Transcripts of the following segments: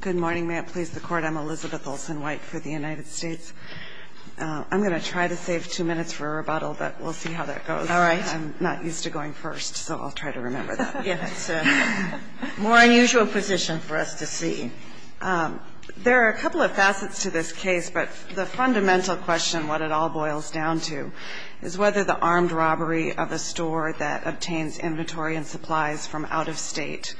Good morning, may it please the Court. I'm Elizabeth Olsen-White for the United States. I'm going to try to save two minutes for a rebuttal, but we'll see how that goes. All right. I'm not used to going first, so I'll try to remember that. Yes, more unusual position for us to see. There are a couple of facets to this case, but the fundamental question, what it all boils down to, is whether the armed robbery of a store that obtains inventory and supplies from out-of-state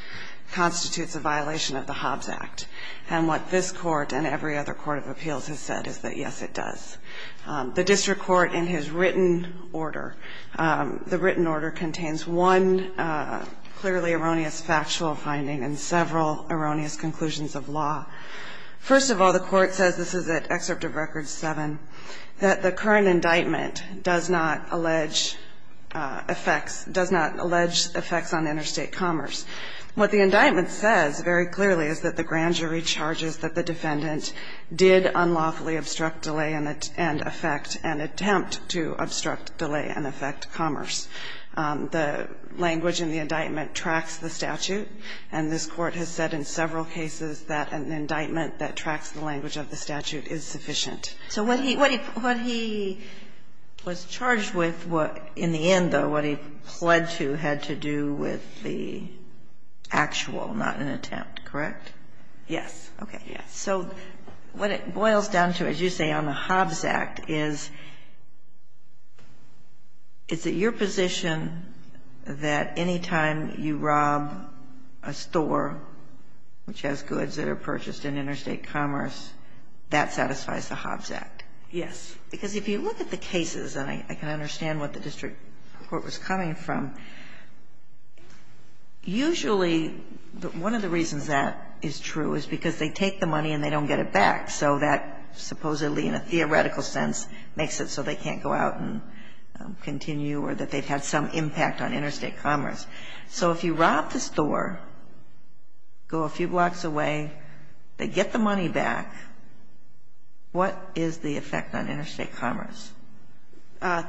constitutes a violation of the Hobbs Act. And what this Court and every other court of appeals has said is that, yes, it does. The district court, in his written order, the written order contains one clearly erroneous factual finding and several erroneous conclusions of law. First of all, the Court says, this is at Excerpt of Record 7, that the current indictment does not allege effects on interstate commerce. What the indictment says very clearly is that the grand jury charges that the defendant did unlawfully obstruct, delay, and affect, and attempt to obstruct, delay, and affect commerce. The language in the indictment tracks the statute, and this Court has said in several cases that an indictment that tracks the language of the statute is sufficient. So what he was charged with in the end, though, what he pled to had to do with the actual, not an attempt, correct? Yes. Okay. Yes. So what it boils down to, as you say, on the Hobbs Act is, is it your position that anytime you rob a store, which has goods that are purchased in interstate commerce, that satisfies the Hobbs Act? Yes. Because if you look at the cases, and I can understand what the district court was coming from, usually one of the reasons that is true is because they take the money and they don't get it back. So that supposedly, in a theoretical sense, makes it so they can't go out and continue or that they've had some impact on interstate commerce. So if you rob the store, go a few blocks away, they get the money back, what is the effect on interstate commerce?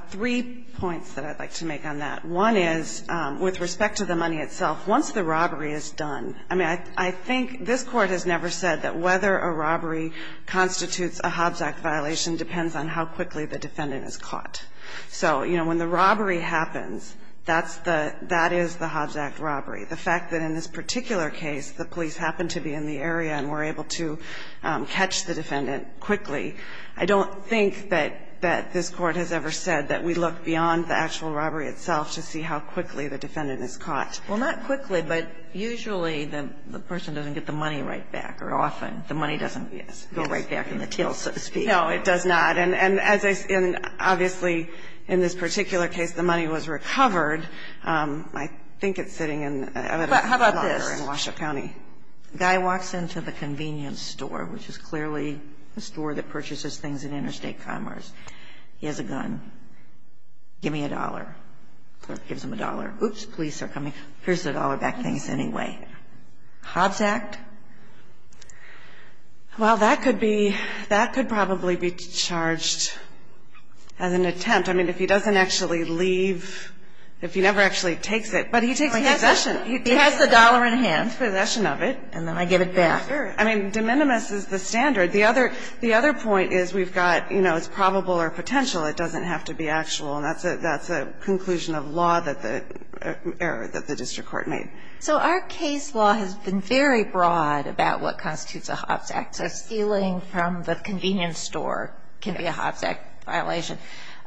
Three points that I'd like to make on that. One is, with respect to the money itself, once the robbery is done, I mean, I think this Court has never said that whether a robbery constitutes a Hobbs Act violation depends on how quickly the defendant is caught. So, you know, when the robbery happens, that's the, that is the Hobbs Act robbery. The fact that in this particular case, the police happened to be in the area and were able to catch the defendant quickly, I don't think that this Court has ever said that we look beyond the actual robbery itself to see how quickly the defendant is caught. Well, not quickly, but usually the person doesn't get the money right back, or often the money doesn't go right back in the tail, so to speak. No, it does not. And as I said, obviously, in this particular case, the money was recovered. I think it's sitting in a locker in Washoe County. The guy walks into the convenience store, which is clearly a store that purchases things in interstate commerce. He has a gun. Give me a dollar. The clerk gives him a dollar. Oops, police are coming. Here's the dollar back things anyway. Hobbs Act? Well, that could be, that could probably be charged as an attempt. I mean, if he doesn't actually leave, if he never actually takes it, but he takes possession. He has the dollar in hand. He takes possession of it. And then I give it back. Sure. I mean, de minimis is the standard. The other point is we've got, you know, it's probable or potential. It doesn't have to be actual, and that's a conclusion of law that the district court made. So our case law has been very broad about what constitutes a Hobbs Act, so stealing from the convenience store can be a Hobbs Act violation.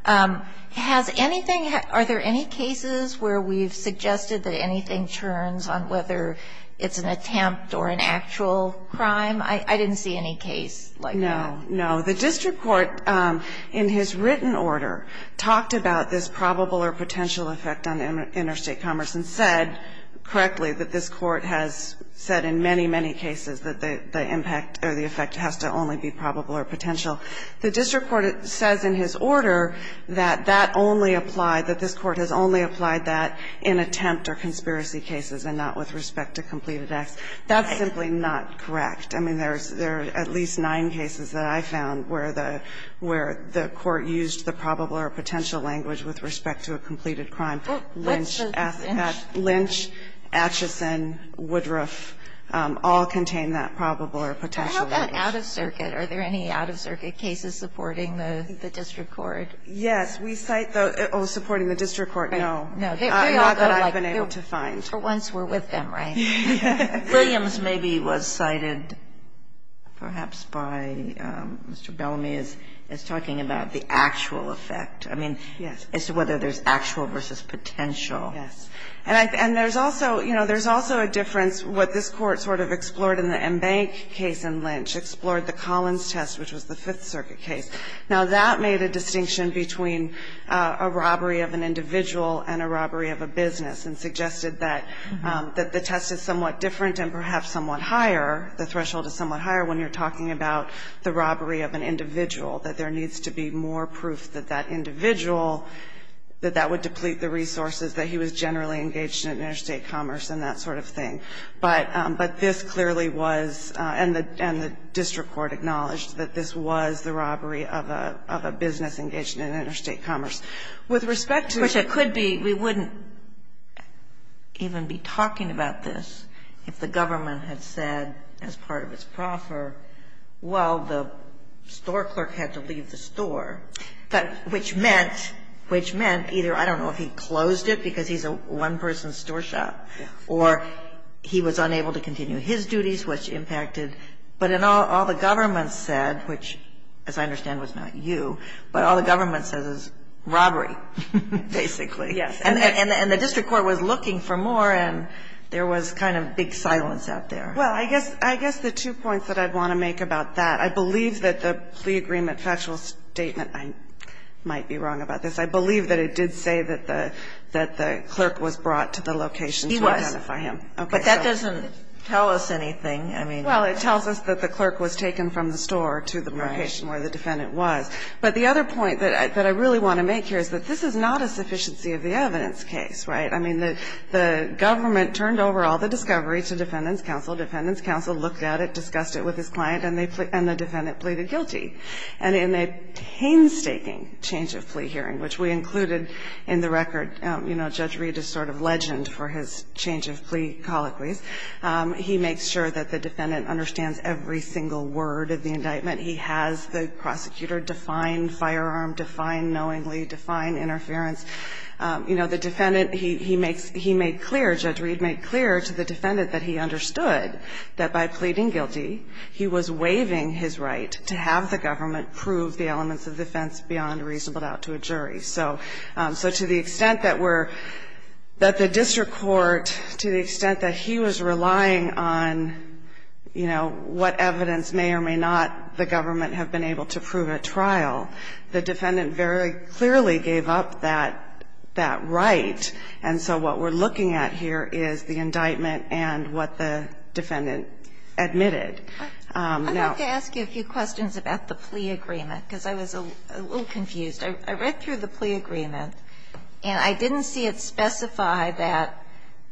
Has anything, are there any cases where we've suggested that anything turns on whether it's an attempt or an actual crime? I didn't see any case like that. No. No. The district court, in his written order, talked about this probable or potential effect on interstate commerce and said correctly that this court has said in many, many cases that the impact or the effect has to only be probable or potential. The district court says in his order that that only applied, that this court has only applied that in attempt or conspiracy cases and not with respect to completed acts. That's simply not correct. I mean, there are at least nine cases that I found where the court used the probable or potential language with respect to a completed crime. Lynch, Acheson, Woodruff all contain that probable or potential language. Is that out of circuit? Are there any out of circuit cases supporting the district court? Yes. We cite the oh, supporting the district court, no. No. Not that I've been able to find. For once we're with them, right? Williams maybe was cited perhaps by Mr. Bellamy as talking about the actual effect. I mean, as to whether there's actual versus potential. Yes. And there's also, you know, there's also a difference, what this court sort of explored in the Embank case in Lynch, explored the Collins test, which was the Fifth Circuit case. Now, that made a distinction between a robbery of an individual and a robbery of a business and suggested that the test is somewhat different and perhaps somewhat higher. The threshold is somewhat higher when you're talking about the robbery of an individual, that there needs to be more proof that that individual, that that would deplete the resources, that he was generally engaged in interstate commerce and that sort of thing. But this clearly was, and the district court acknowledged that this was the robbery of a business engaged in interstate commerce. With respect to the ---- Which it could be. We wouldn't even be talking about this if the government had said as part of its proffer, well, the store clerk had to leave the store. But which meant, which meant either, I don't know if he closed it because he's a one-person store shop or he was unable to continue his duties, which impacted. But in all the government said, which as I understand was not you, but all the government says is robbery, basically. Yes. And the district court was looking for more and there was kind of big silence out there. Well, I guess the two points that I'd want to make about that. I believe that the plea agreement factual statement, I might be wrong about this, I believe that it did say that the clerk was brought to the location to identify him. He was, but that doesn't tell us anything. Well, it tells us that the clerk was taken from the store to the location where the defendant was. But the other point that I really want to make here is that this is not a sufficiency of the evidence case, right? I mean, the government turned over all the discovery to defendants counsel, defendants counsel looked at it, discussed it with his client. And the defendant pleaded guilty. And in a painstaking change of plea hearing, which we included in the record, you know, Judge Reed is sort of legend for his change of plea colloquies. He makes sure that the defendant understands every single word of the indictment. He has the prosecutor define firearm, define knowingly, define interference. You know, the defendant, he makes he made clear, Judge Reed made clear to the defendant that he understood that by pleading guilty, he was waiving his right to have the government prove the elements of defense beyond reasonable doubt to a jury. So to the extent that we're – that the district court, to the extent that he was relying on, you know, what evidence may or may not the government have been able to prove at trial, the defendant very clearly gave up that right. And so what we're looking at here is the indictment and what the defendant admitted. Now – I'd like to ask you a few questions about the plea agreement, because I was a little confused. I read through the plea agreement, and I didn't see it specify that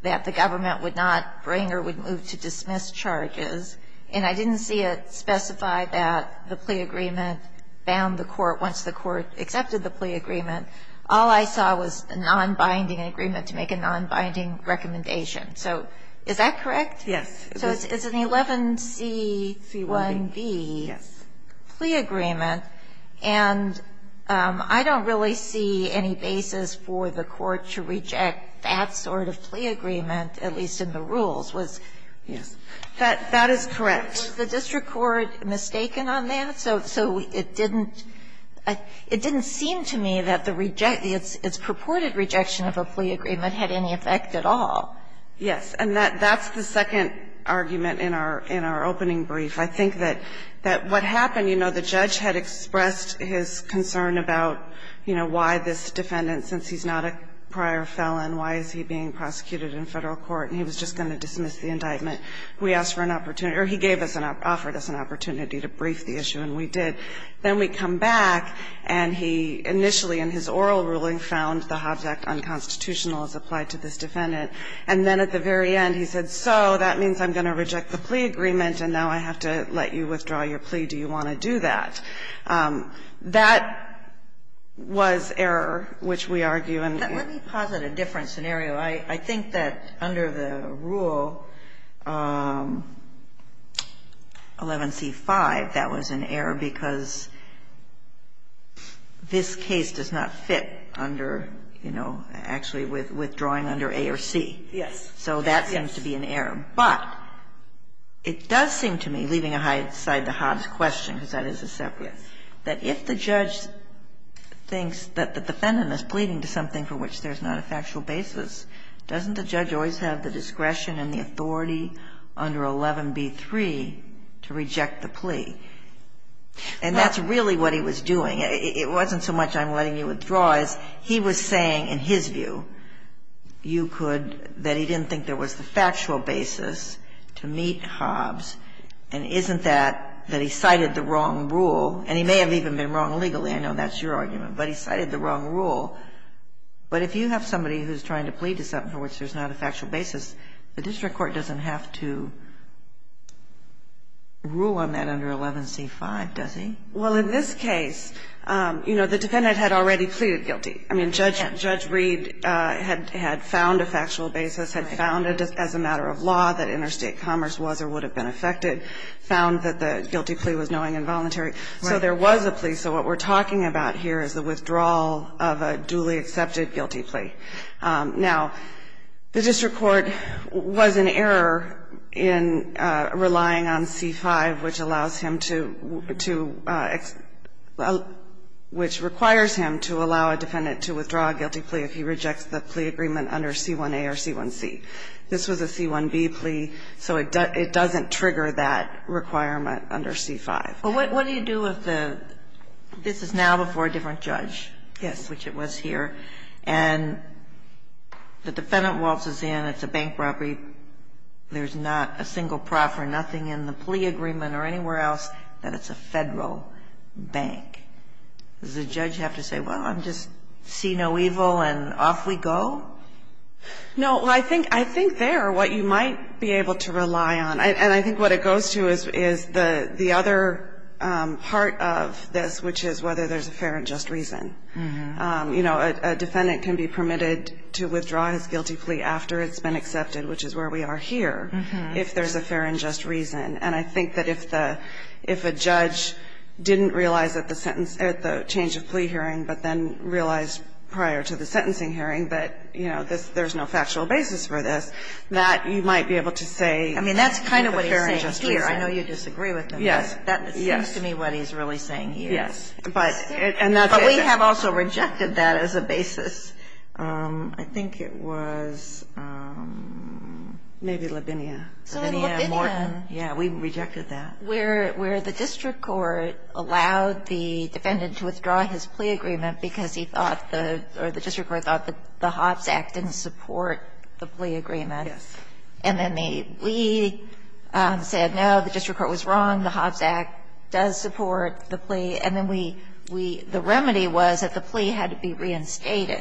the government would not bring or would move to dismiss charges. And I didn't see it specify that the plea agreement bound the court once the court accepted the plea agreement. All I saw was a nonbinding agreement to make a nonbinding recommendation. So is that correct? Yes. So it's an 11C1B plea agreement. And I don't really see any basis for the court to reject that sort of plea agreement, at least in the rules. Yes. That is correct. Was the district court mistaken on that? So it didn't – it didn't seem to me that the – its purported rejection of a plea agreement had any effect at all. Yes. And that's the second argument in our opening brief. I think that what happened, you know, the judge had expressed his concern about, you know, why this defendant, since he's not a prior felon, why is he being prosecuted in Federal court, and he was just going to dismiss the indictment. We asked for an opportunity – or he gave us an – offered us an opportunity to brief the issue, and we did. Then we come back, and he initially in his oral ruling found the Hobbs Act unconstitutional as applied to this defendant. And then at the very end he said, so that means I'm going to reject the plea agreement, and now I have to let you withdraw your plea. Do you want to do that? That was error, which we argue in the – Let me posit a different scenario. I think that under the rule 11c-5, that was an error because this case does not fit under, you know, actually withdrawing under A or C. Yes. So that seems to be an error. But it does seem to me, leaving aside the Hobbs question, because that is a separate, that if the judge thinks that the defendant is pleading to something for which there's not a factual basis, doesn't the judge always have the discretion and the authority under 11b-3 to reject the plea? And that's really what he was doing. It wasn't so much I'm letting you withdraw as he was saying in his view you could – that he didn't think there was the factual basis to meet Hobbs, and isn't that that he cited the wrong rule? And he may have even been wrong legally. I know that's your argument. But he cited the wrong rule. But if you have somebody who's trying to plead to something for which there's not a factual basis, the district court doesn't have to rule on that under 11c-5, does he? Well, in this case, you know, the defendant had already pleaded guilty. I mean, Judge Reed had found a factual basis, had found it as a matter of law that interstate commerce was or would have been affected, found that the guilty plea was knowing and voluntary. So there was a plea. So what we're talking about here is the withdrawal of a duly accepted guilty plea. Now, the district court was in error in relying on c-5, which allows him to – which requires him to allow a defendant to withdraw a guilty plea if he rejects the plea agreement under c-1a or c-1c. This was a c-1b plea, so it doesn't trigger that requirement under c-5. Well, what do you do if the – this is now before a different judge. Yes. Which it was here. And the defendant waltzes in, it's a bank robbery, there's not a single prof or nothing in the plea agreement or anywhere else that it's a Federal bank. Does the judge have to say, well, I'm just see no evil and off we go? No. I think there, what you might be able to rely on, and I think what it goes to is the other part of this, which is whether there's a fair and just reason. You know, a defendant can be permitted to withdraw his guilty plea after it's been accepted, which is where we are here, if there's a fair and just reason. And I think that if the – if a judge didn't realize at the sentence – at the change of plea hearing, but then realized prior to the sentencing hearing that, you know, there's no factual basis for this, that you might be able to say there's a fair and just reason. I mean, that's kind of what he's saying here. I know you disagree with him. Yes. That seems to me what he's really saying here. Yes. But we have also rejected that as a basis. I think it was maybe Labinia. So in Labinia, where the district court allowed the defendant to withdraw his plea agreement because he thought the – or the district court thought the Hobbs Act didn't support the plea agreement, and then they said, no, the district court was wrong, the Hobbs Act does support the plea, and then we – we – the remedy was that the plea had to be reinstated.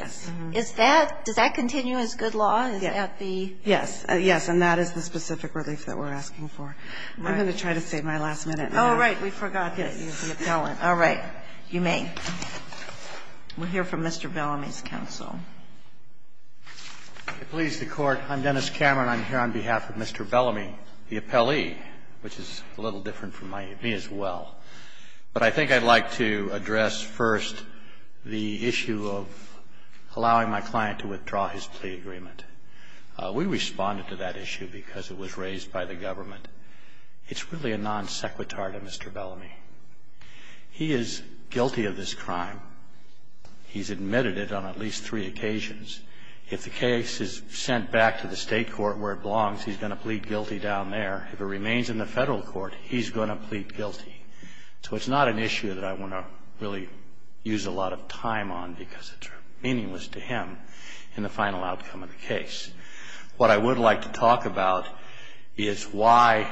Is that – does that continue as good law? Is that the – Yes. Yes. And that is the specific relief that we're asking for. I'm going to try to save my last minute. Oh, right. We forgot to get you the appellant. All right. You may. We'll hear from Mr. Bellamy's counsel. Please, the Court. I'm Dennis Cameron. I'm here on behalf of Mr. Bellamy, the appellee, which is a little different from my – me as well. But I think I'd like to address first the issue of allowing my client to withdraw his plea agreement. We responded to that issue because it was raised by the government. It's really a non sequitur to Mr. Bellamy. He is guilty of this crime. He's admitted it on at least three occasions. If the case is sent back to the State court where it belongs, he's going to plead guilty down there. If it remains in the Federal court, he's going to plead guilty. So it's not an issue that I want to really use a lot of time on because it's meaningless to him in the final outcome of the case. What I would like to talk about is why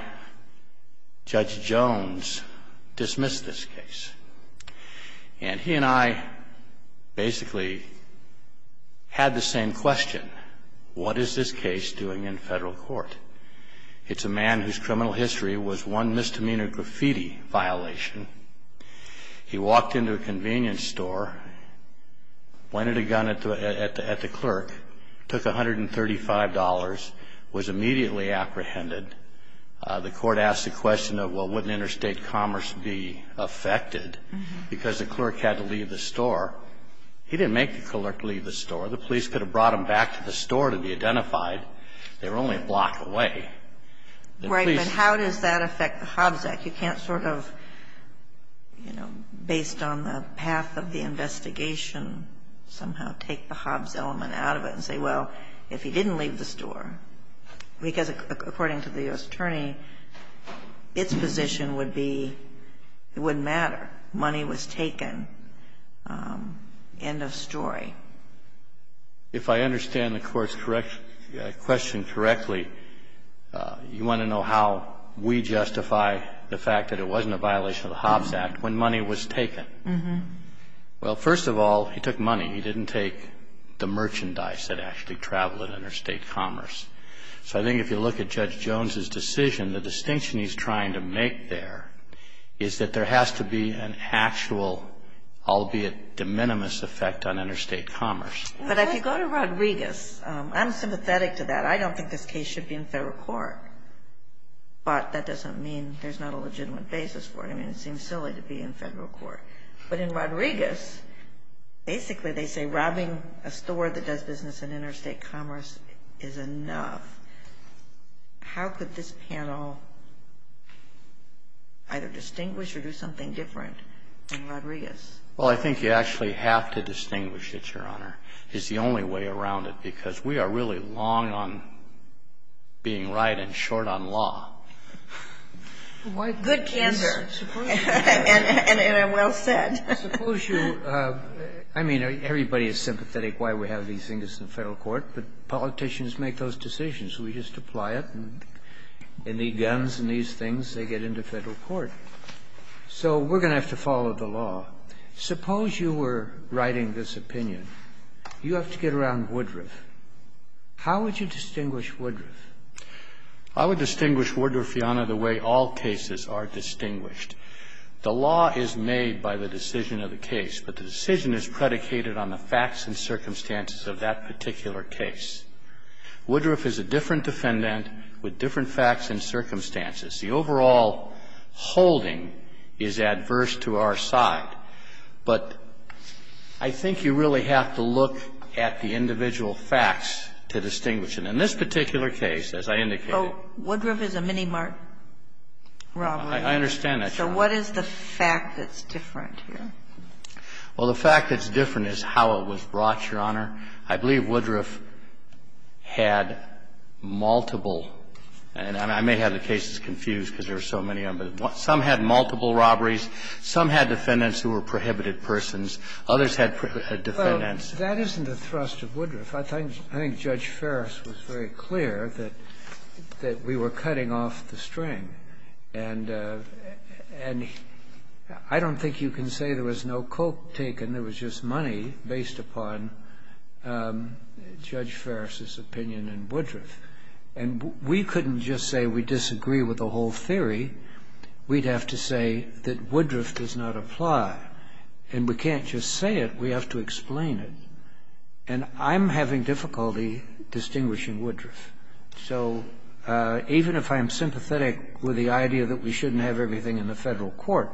Judge Jones dismissed this case. And he and I basically had the same question. What is this case doing in Federal court? It's a man whose criminal history was one misdemeanor graffiti violation. He walked into a convenience store, pointed a gun at the clerk, took $135, was immediately apprehended. The court asked the question of, well, wouldn't interstate commerce be affected because the clerk had to leave the store. He didn't make the clerk leave the store. The police could have brought him back to the store to be identified. They were only a block away. And the police --- Right, but how does that affect the Hobbs Act? You can't sort of, you know, based on the path of the investigation, somehow take the Hobbs element out of it and say, well, if he didn't leave the store, because according to the U.S. attorney, its position would be it wouldn't matter. Money was taken. End of story. If I understand the Court's question correctly, you want to know how we justify the fact that it wasn't a violation of the Hobbs Act when money was taken. Well, first of all, he took money. He didn't take the merchandise that actually traveled in interstate commerce. So I think if you look at Judge Jones's decision, the distinction he's trying to make there is that there has to be an actual, albeit de minimis, effect on interstate commerce. But if you go to Rodriguez, I'm sympathetic to that. I don't think this case should be in federal court. But that doesn't mean there's not a legitimate basis for it. I mean, it seems silly to be in federal court. But in Rodriguez, basically they say robbing a store that does business in interstate commerce is enough. How could this panel either distinguish or do something different than Rodriguez? Well, I think you actually have to distinguish it, Your Honor, is the only way around it. Because we are really long on being right and short on law. Good candor. And well said. Suppose you – I mean, everybody is sympathetic why we have these things in federal court, but politicians make those decisions. We just apply it and they need guns and these things, they get into federal court. So we're going to have to follow the law. Suppose you were writing this opinion. You have to get around Woodruff. How would you distinguish Woodruff? I would distinguish Woodruff, Your Honor, the way all cases are distinguished. The law is made by the decision of the case, but the decision is predicated on the facts and circumstances of that particular case. Woodruff is a different defendant with different facts and circumstances. The overall holding is adverse to our side. But I think you really have to look at the individual facts to distinguish it. In this particular case, as I indicated – Oh, Woodruff is a mini-robbery. Robbery. I understand that, Your Honor. So what is the fact that's different here? Well, the fact that's different is how it was brought, Your Honor. I believe Woodruff had multiple – and I may have the cases confused because there are so many of them – but some had multiple robberies, some had defendants who were prohibited persons, others had defendants. Well, that isn't the thrust of Woodruff. I think Judge Ferris was very clear that we were cutting off the string. And I don't think you can say there was no coke taken, there was just money based upon Judge Ferris's opinion in Woodruff. And we couldn't just say we disagree with the whole theory. We'd have to say that Woodruff does not apply. And we can't just say it, we have to explain it. And I'm having difficulty distinguishing Woodruff. So even if I'm sympathetic with the idea that we shouldn't have everything in the federal court,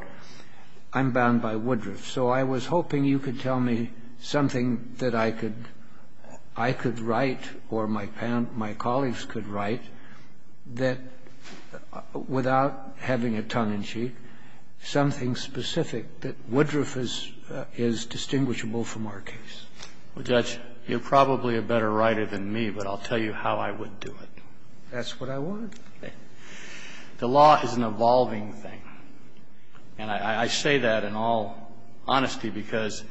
I'm bound by Woodruff. So I was hoping you could tell me something that I could write or my colleagues could write that, without having a tongue-in-cheek, something specific that Woodruff is distinguishable from our case. Well, Judge, you're probably a better writer than me, but I'll tell you how I would do it. That's what I want to do. The law is an evolving thing. And I say that in all honesty because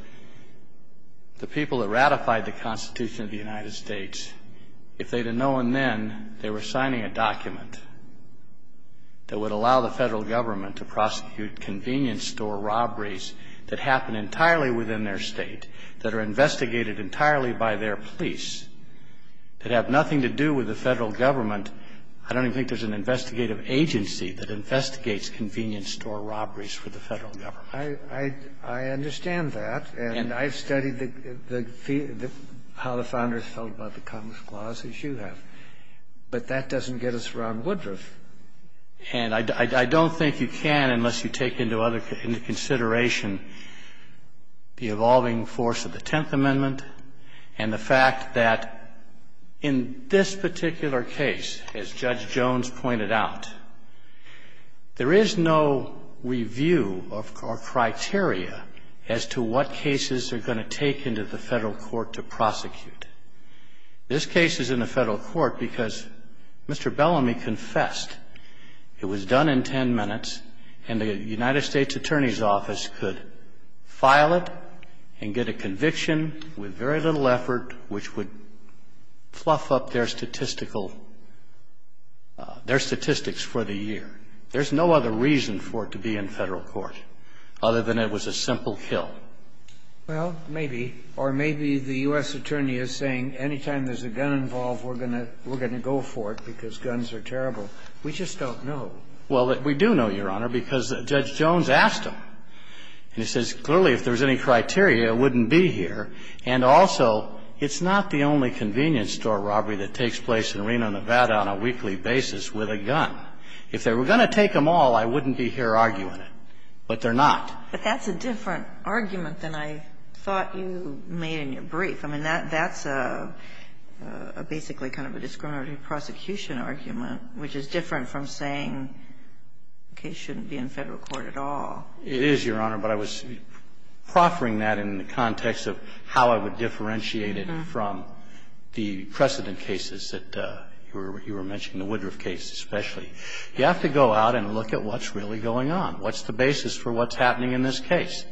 the people that ratified the Constitution of the United States, if they'd have known then they were signing a document that would allow the federal government to prosecute convenience store robberies that happen entirely within their state, that are investigated entirely by their police, that have nothing to do with the federal government, I don't think there's an investigative agency that investigates convenience store robberies for the federal government. I understand that. And I've studied how the founders felt about the Congress clause, as you have. But that doesn't get us around Woodruff. And I don't think you can unless you take into consideration the evolving force of the Tenth Amendment and the fact that in this particular case, as Judge Jones pointed out, there is no review or criteria as to what cases are going to take into the federal court to prosecute. This case is in the federal court because Mr. Bellamy confessed it was done in ten minutes, and the United States Attorney's Office could file it and get a conviction with very little effort, which would fluff up their statistical their statistics for the year. There's no other reason for it to be in federal court, other than it was a simple kill. Well, maybe, or maybe the U.S. Attorney is saying any time there's a gun involved, we're going to go for it because guns are terrible. We just don't know. Well, we do know, Your Honor, because Judge Jones asked him. And he says, clearly, if there's any criteria, it wouldn't be here. And also, it's not the only convenience store robbery that takes place in Reno, Nevada, on a weekly basis with a gun. If they were going to take them all, I wouldn't be here arguing it. But they're not. But that's a different argument than I thought you made in your brief. I mean, that's a basically kind of a discriminatory prosecution argument, which is different from saying the case shouldn't be in federal court at all. It is, Your Honor, but I was proffering that in the context of how I would differentiate it from the precedent cases that you were mentioning, the Woodruff case especially. You have to go out and look at what's really going on. What's the basis for what's happening in this case?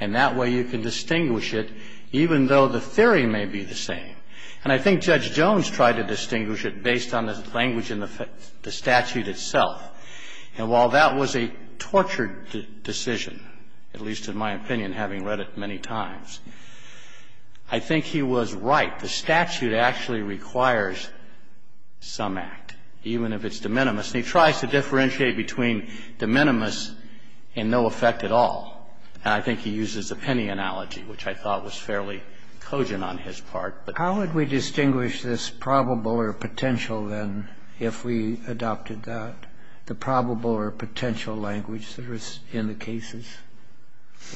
And that way, you can distinguish it, even though the theory may be the same. And I think Judge Jones tried to distinguish it based on the language in the statute itself. And while that was a tortured decision, at least in my opinion, having read it many times, I think he was right. The statute actually requires some act, even if it's de minimis. And he tries to differentiate between de minimis and no effect at all. And I think he uses the penny analogy, which I thought was fairly cogent on his part. But how would we distinguish this probable or potential, then, if we adopted that, the probable or potential language that was in the cases?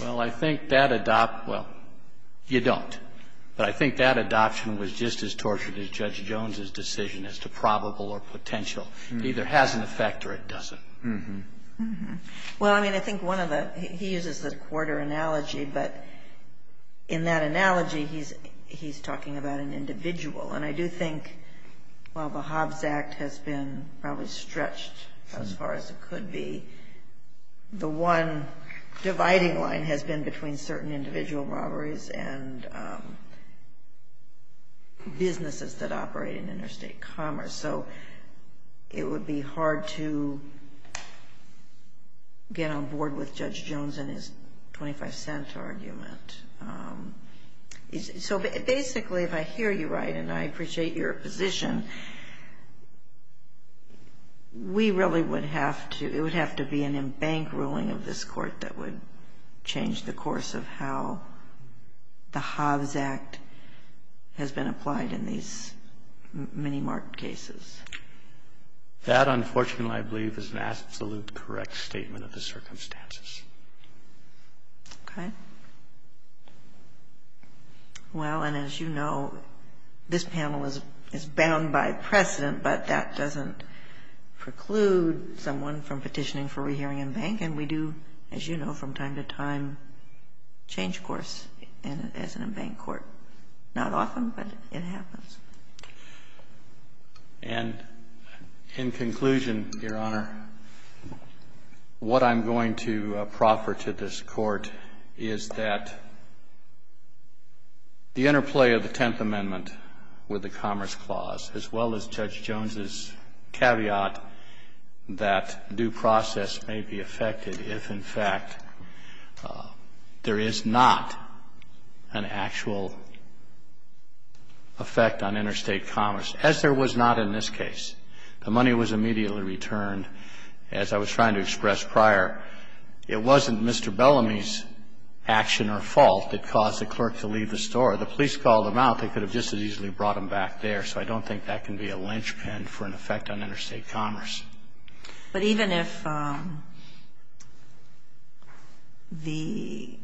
Well, I think that adopt – well, you don't. But I think that adoption was just as tortured as Judge Jones's decision as to probable or potential. It either has an effect or it doesn't. Mm-hmm. Mm-hmm. Well, I mean, I think one of the – he uses the quarter analogy. But in that analogy, he's talking about an individual. And I do think, while the Hobbs Act has been probably stretched as far as it could be, the one dividing line has been between certain individual robberies and businesses that operate in interstate commerce. So it would be hard to get on board with Judge Jones and his 25-cent argument. So, basically, if I hear you right, and I appreciate your position, we really would have to – it would have to be an embank ruling of this Court that would change the That, unfortunately, I believe, is an absolute correct statement of the circumstances. Okay. Well, and as you know, this panel is bound by precedent, but that doesn't preclude someone from petitioning for rehearing embank. And we do, as you know, from time to time, change course as an embank court. Not often, but it happens. And in conclusion, Your Honor, what I'm going to proffer to this Court is that the interplay of the Tenth Amendment with the Commerce Clause, as well as Judge Jones's caveat that due process may be affected if, in fact, there is not an actual effect on interstate commerce, as there was not in this case. The money was immediately returned. As I was trying to express prior, it wasn't Mr. Bellamy's action or fault that caused the clerk to leave the store. The police called him out. They could have just as easily brought him back there. So I don't think that can be a linchpin for an effect on interstate commerce. But even if the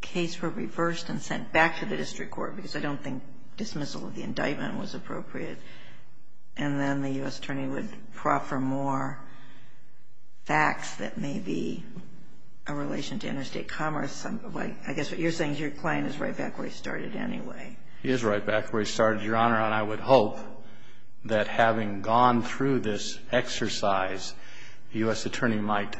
case were reversed and sent back to the district court, because I don't think dismissal of the indictment was appropriate, and then the U.S. attorney would proffer more facts that may be a relation to interstate commerce, I guess what you're saying is your client is right back where he started anyway. He is right back where he started, Your Honor. And I would hope that having gone through this exercise, the U.S. attorney might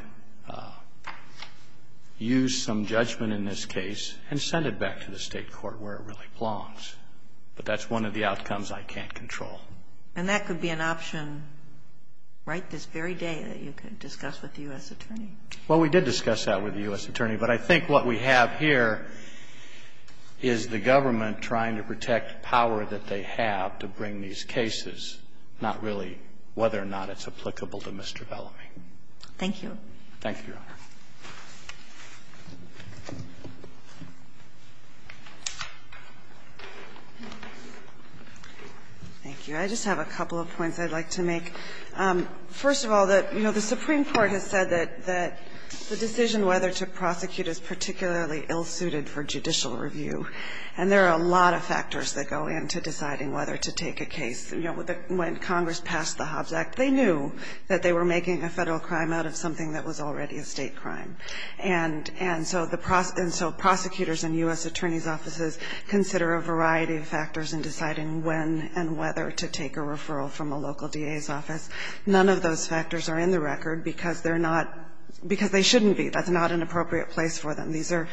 use some judgment in this case and send it back to the state court where it really belongs. But that's one of the outcomes I can't control. And that could be an option right this very day that you could discuss with the U.S. attorney. Well, we did discuss that with the U.S. attorney. But I think what we have here is the government trying to protect power that they have to bring these cases, not really whether or not it's applicable to Mr. Bellamy. Thank you. Thank you, Your Honor. Thank you. I just have a couple of points I'd like to make. First of all, the Supreme Court has said that the decision whether to prosecute is particularly ill-suited for judicial review. And there are a lot of factors that go into deciding whether to take a case. When Congress passed the Hobbs Act, they knew that they were making a federal crime out of something that was already a state crime. And so prosecutors in U.S. attorneys' offices consider a variety of factors in deciding when and whether to take a case. None of those factors are in the record because they're not – because they shouldn't be. That's not an appropriate place for them. These are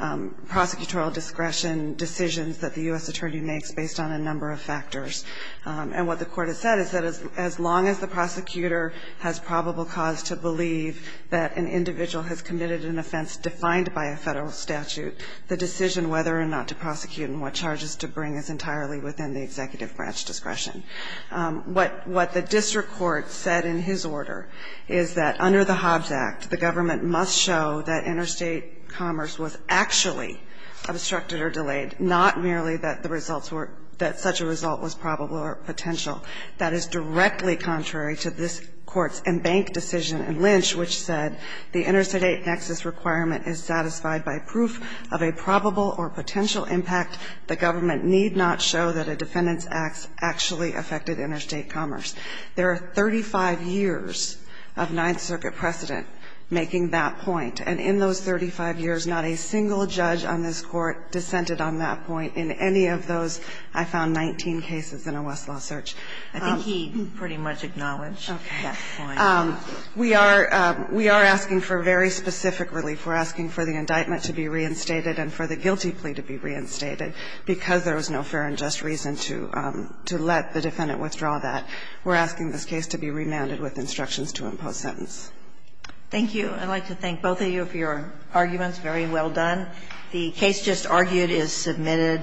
prosecutorial discretion decisions that the U.S. attorney makes based on a number of factors. And what the Court has said is that as long as the prosecutor has probable cause to believe that an individual has committed an offense defined by a federal statute, the decision whether or not to prosecute and what charges to bring is entirely within the executive branch discretion. What the district court said in his order is that under the Hobbs Act, the government must show that interstate commerce was actually obstructed or delayed, not merely that the results were – that such a result was probable or potential. That is directly contrary to this Court's embanked decision in Lynch, which said the interstate nexus requirement is satisfied by proof of a probable or potential impact. The government need not show that a defendant's acts actually affected interstate commerce. There are 35 years of Ninth Circuit precedent making that point. And in those 35 years, not a single judge on this Court dissented on that point in any of those, I found, 19 cases in a Westlaw search. I think he pretty much acknowledged that point. Okay. We are – we are asking for very specific relief. We're asking for the indictment to be reinstated and for the guilty plea to be reinstated because there was no fair and just reason to let the defendant withdraw that. We're asking this case to be remanded with instructions to impose sentence. Thank you. I'd like to thank both of you for your arguments. Very well done. The case just argued is submitted.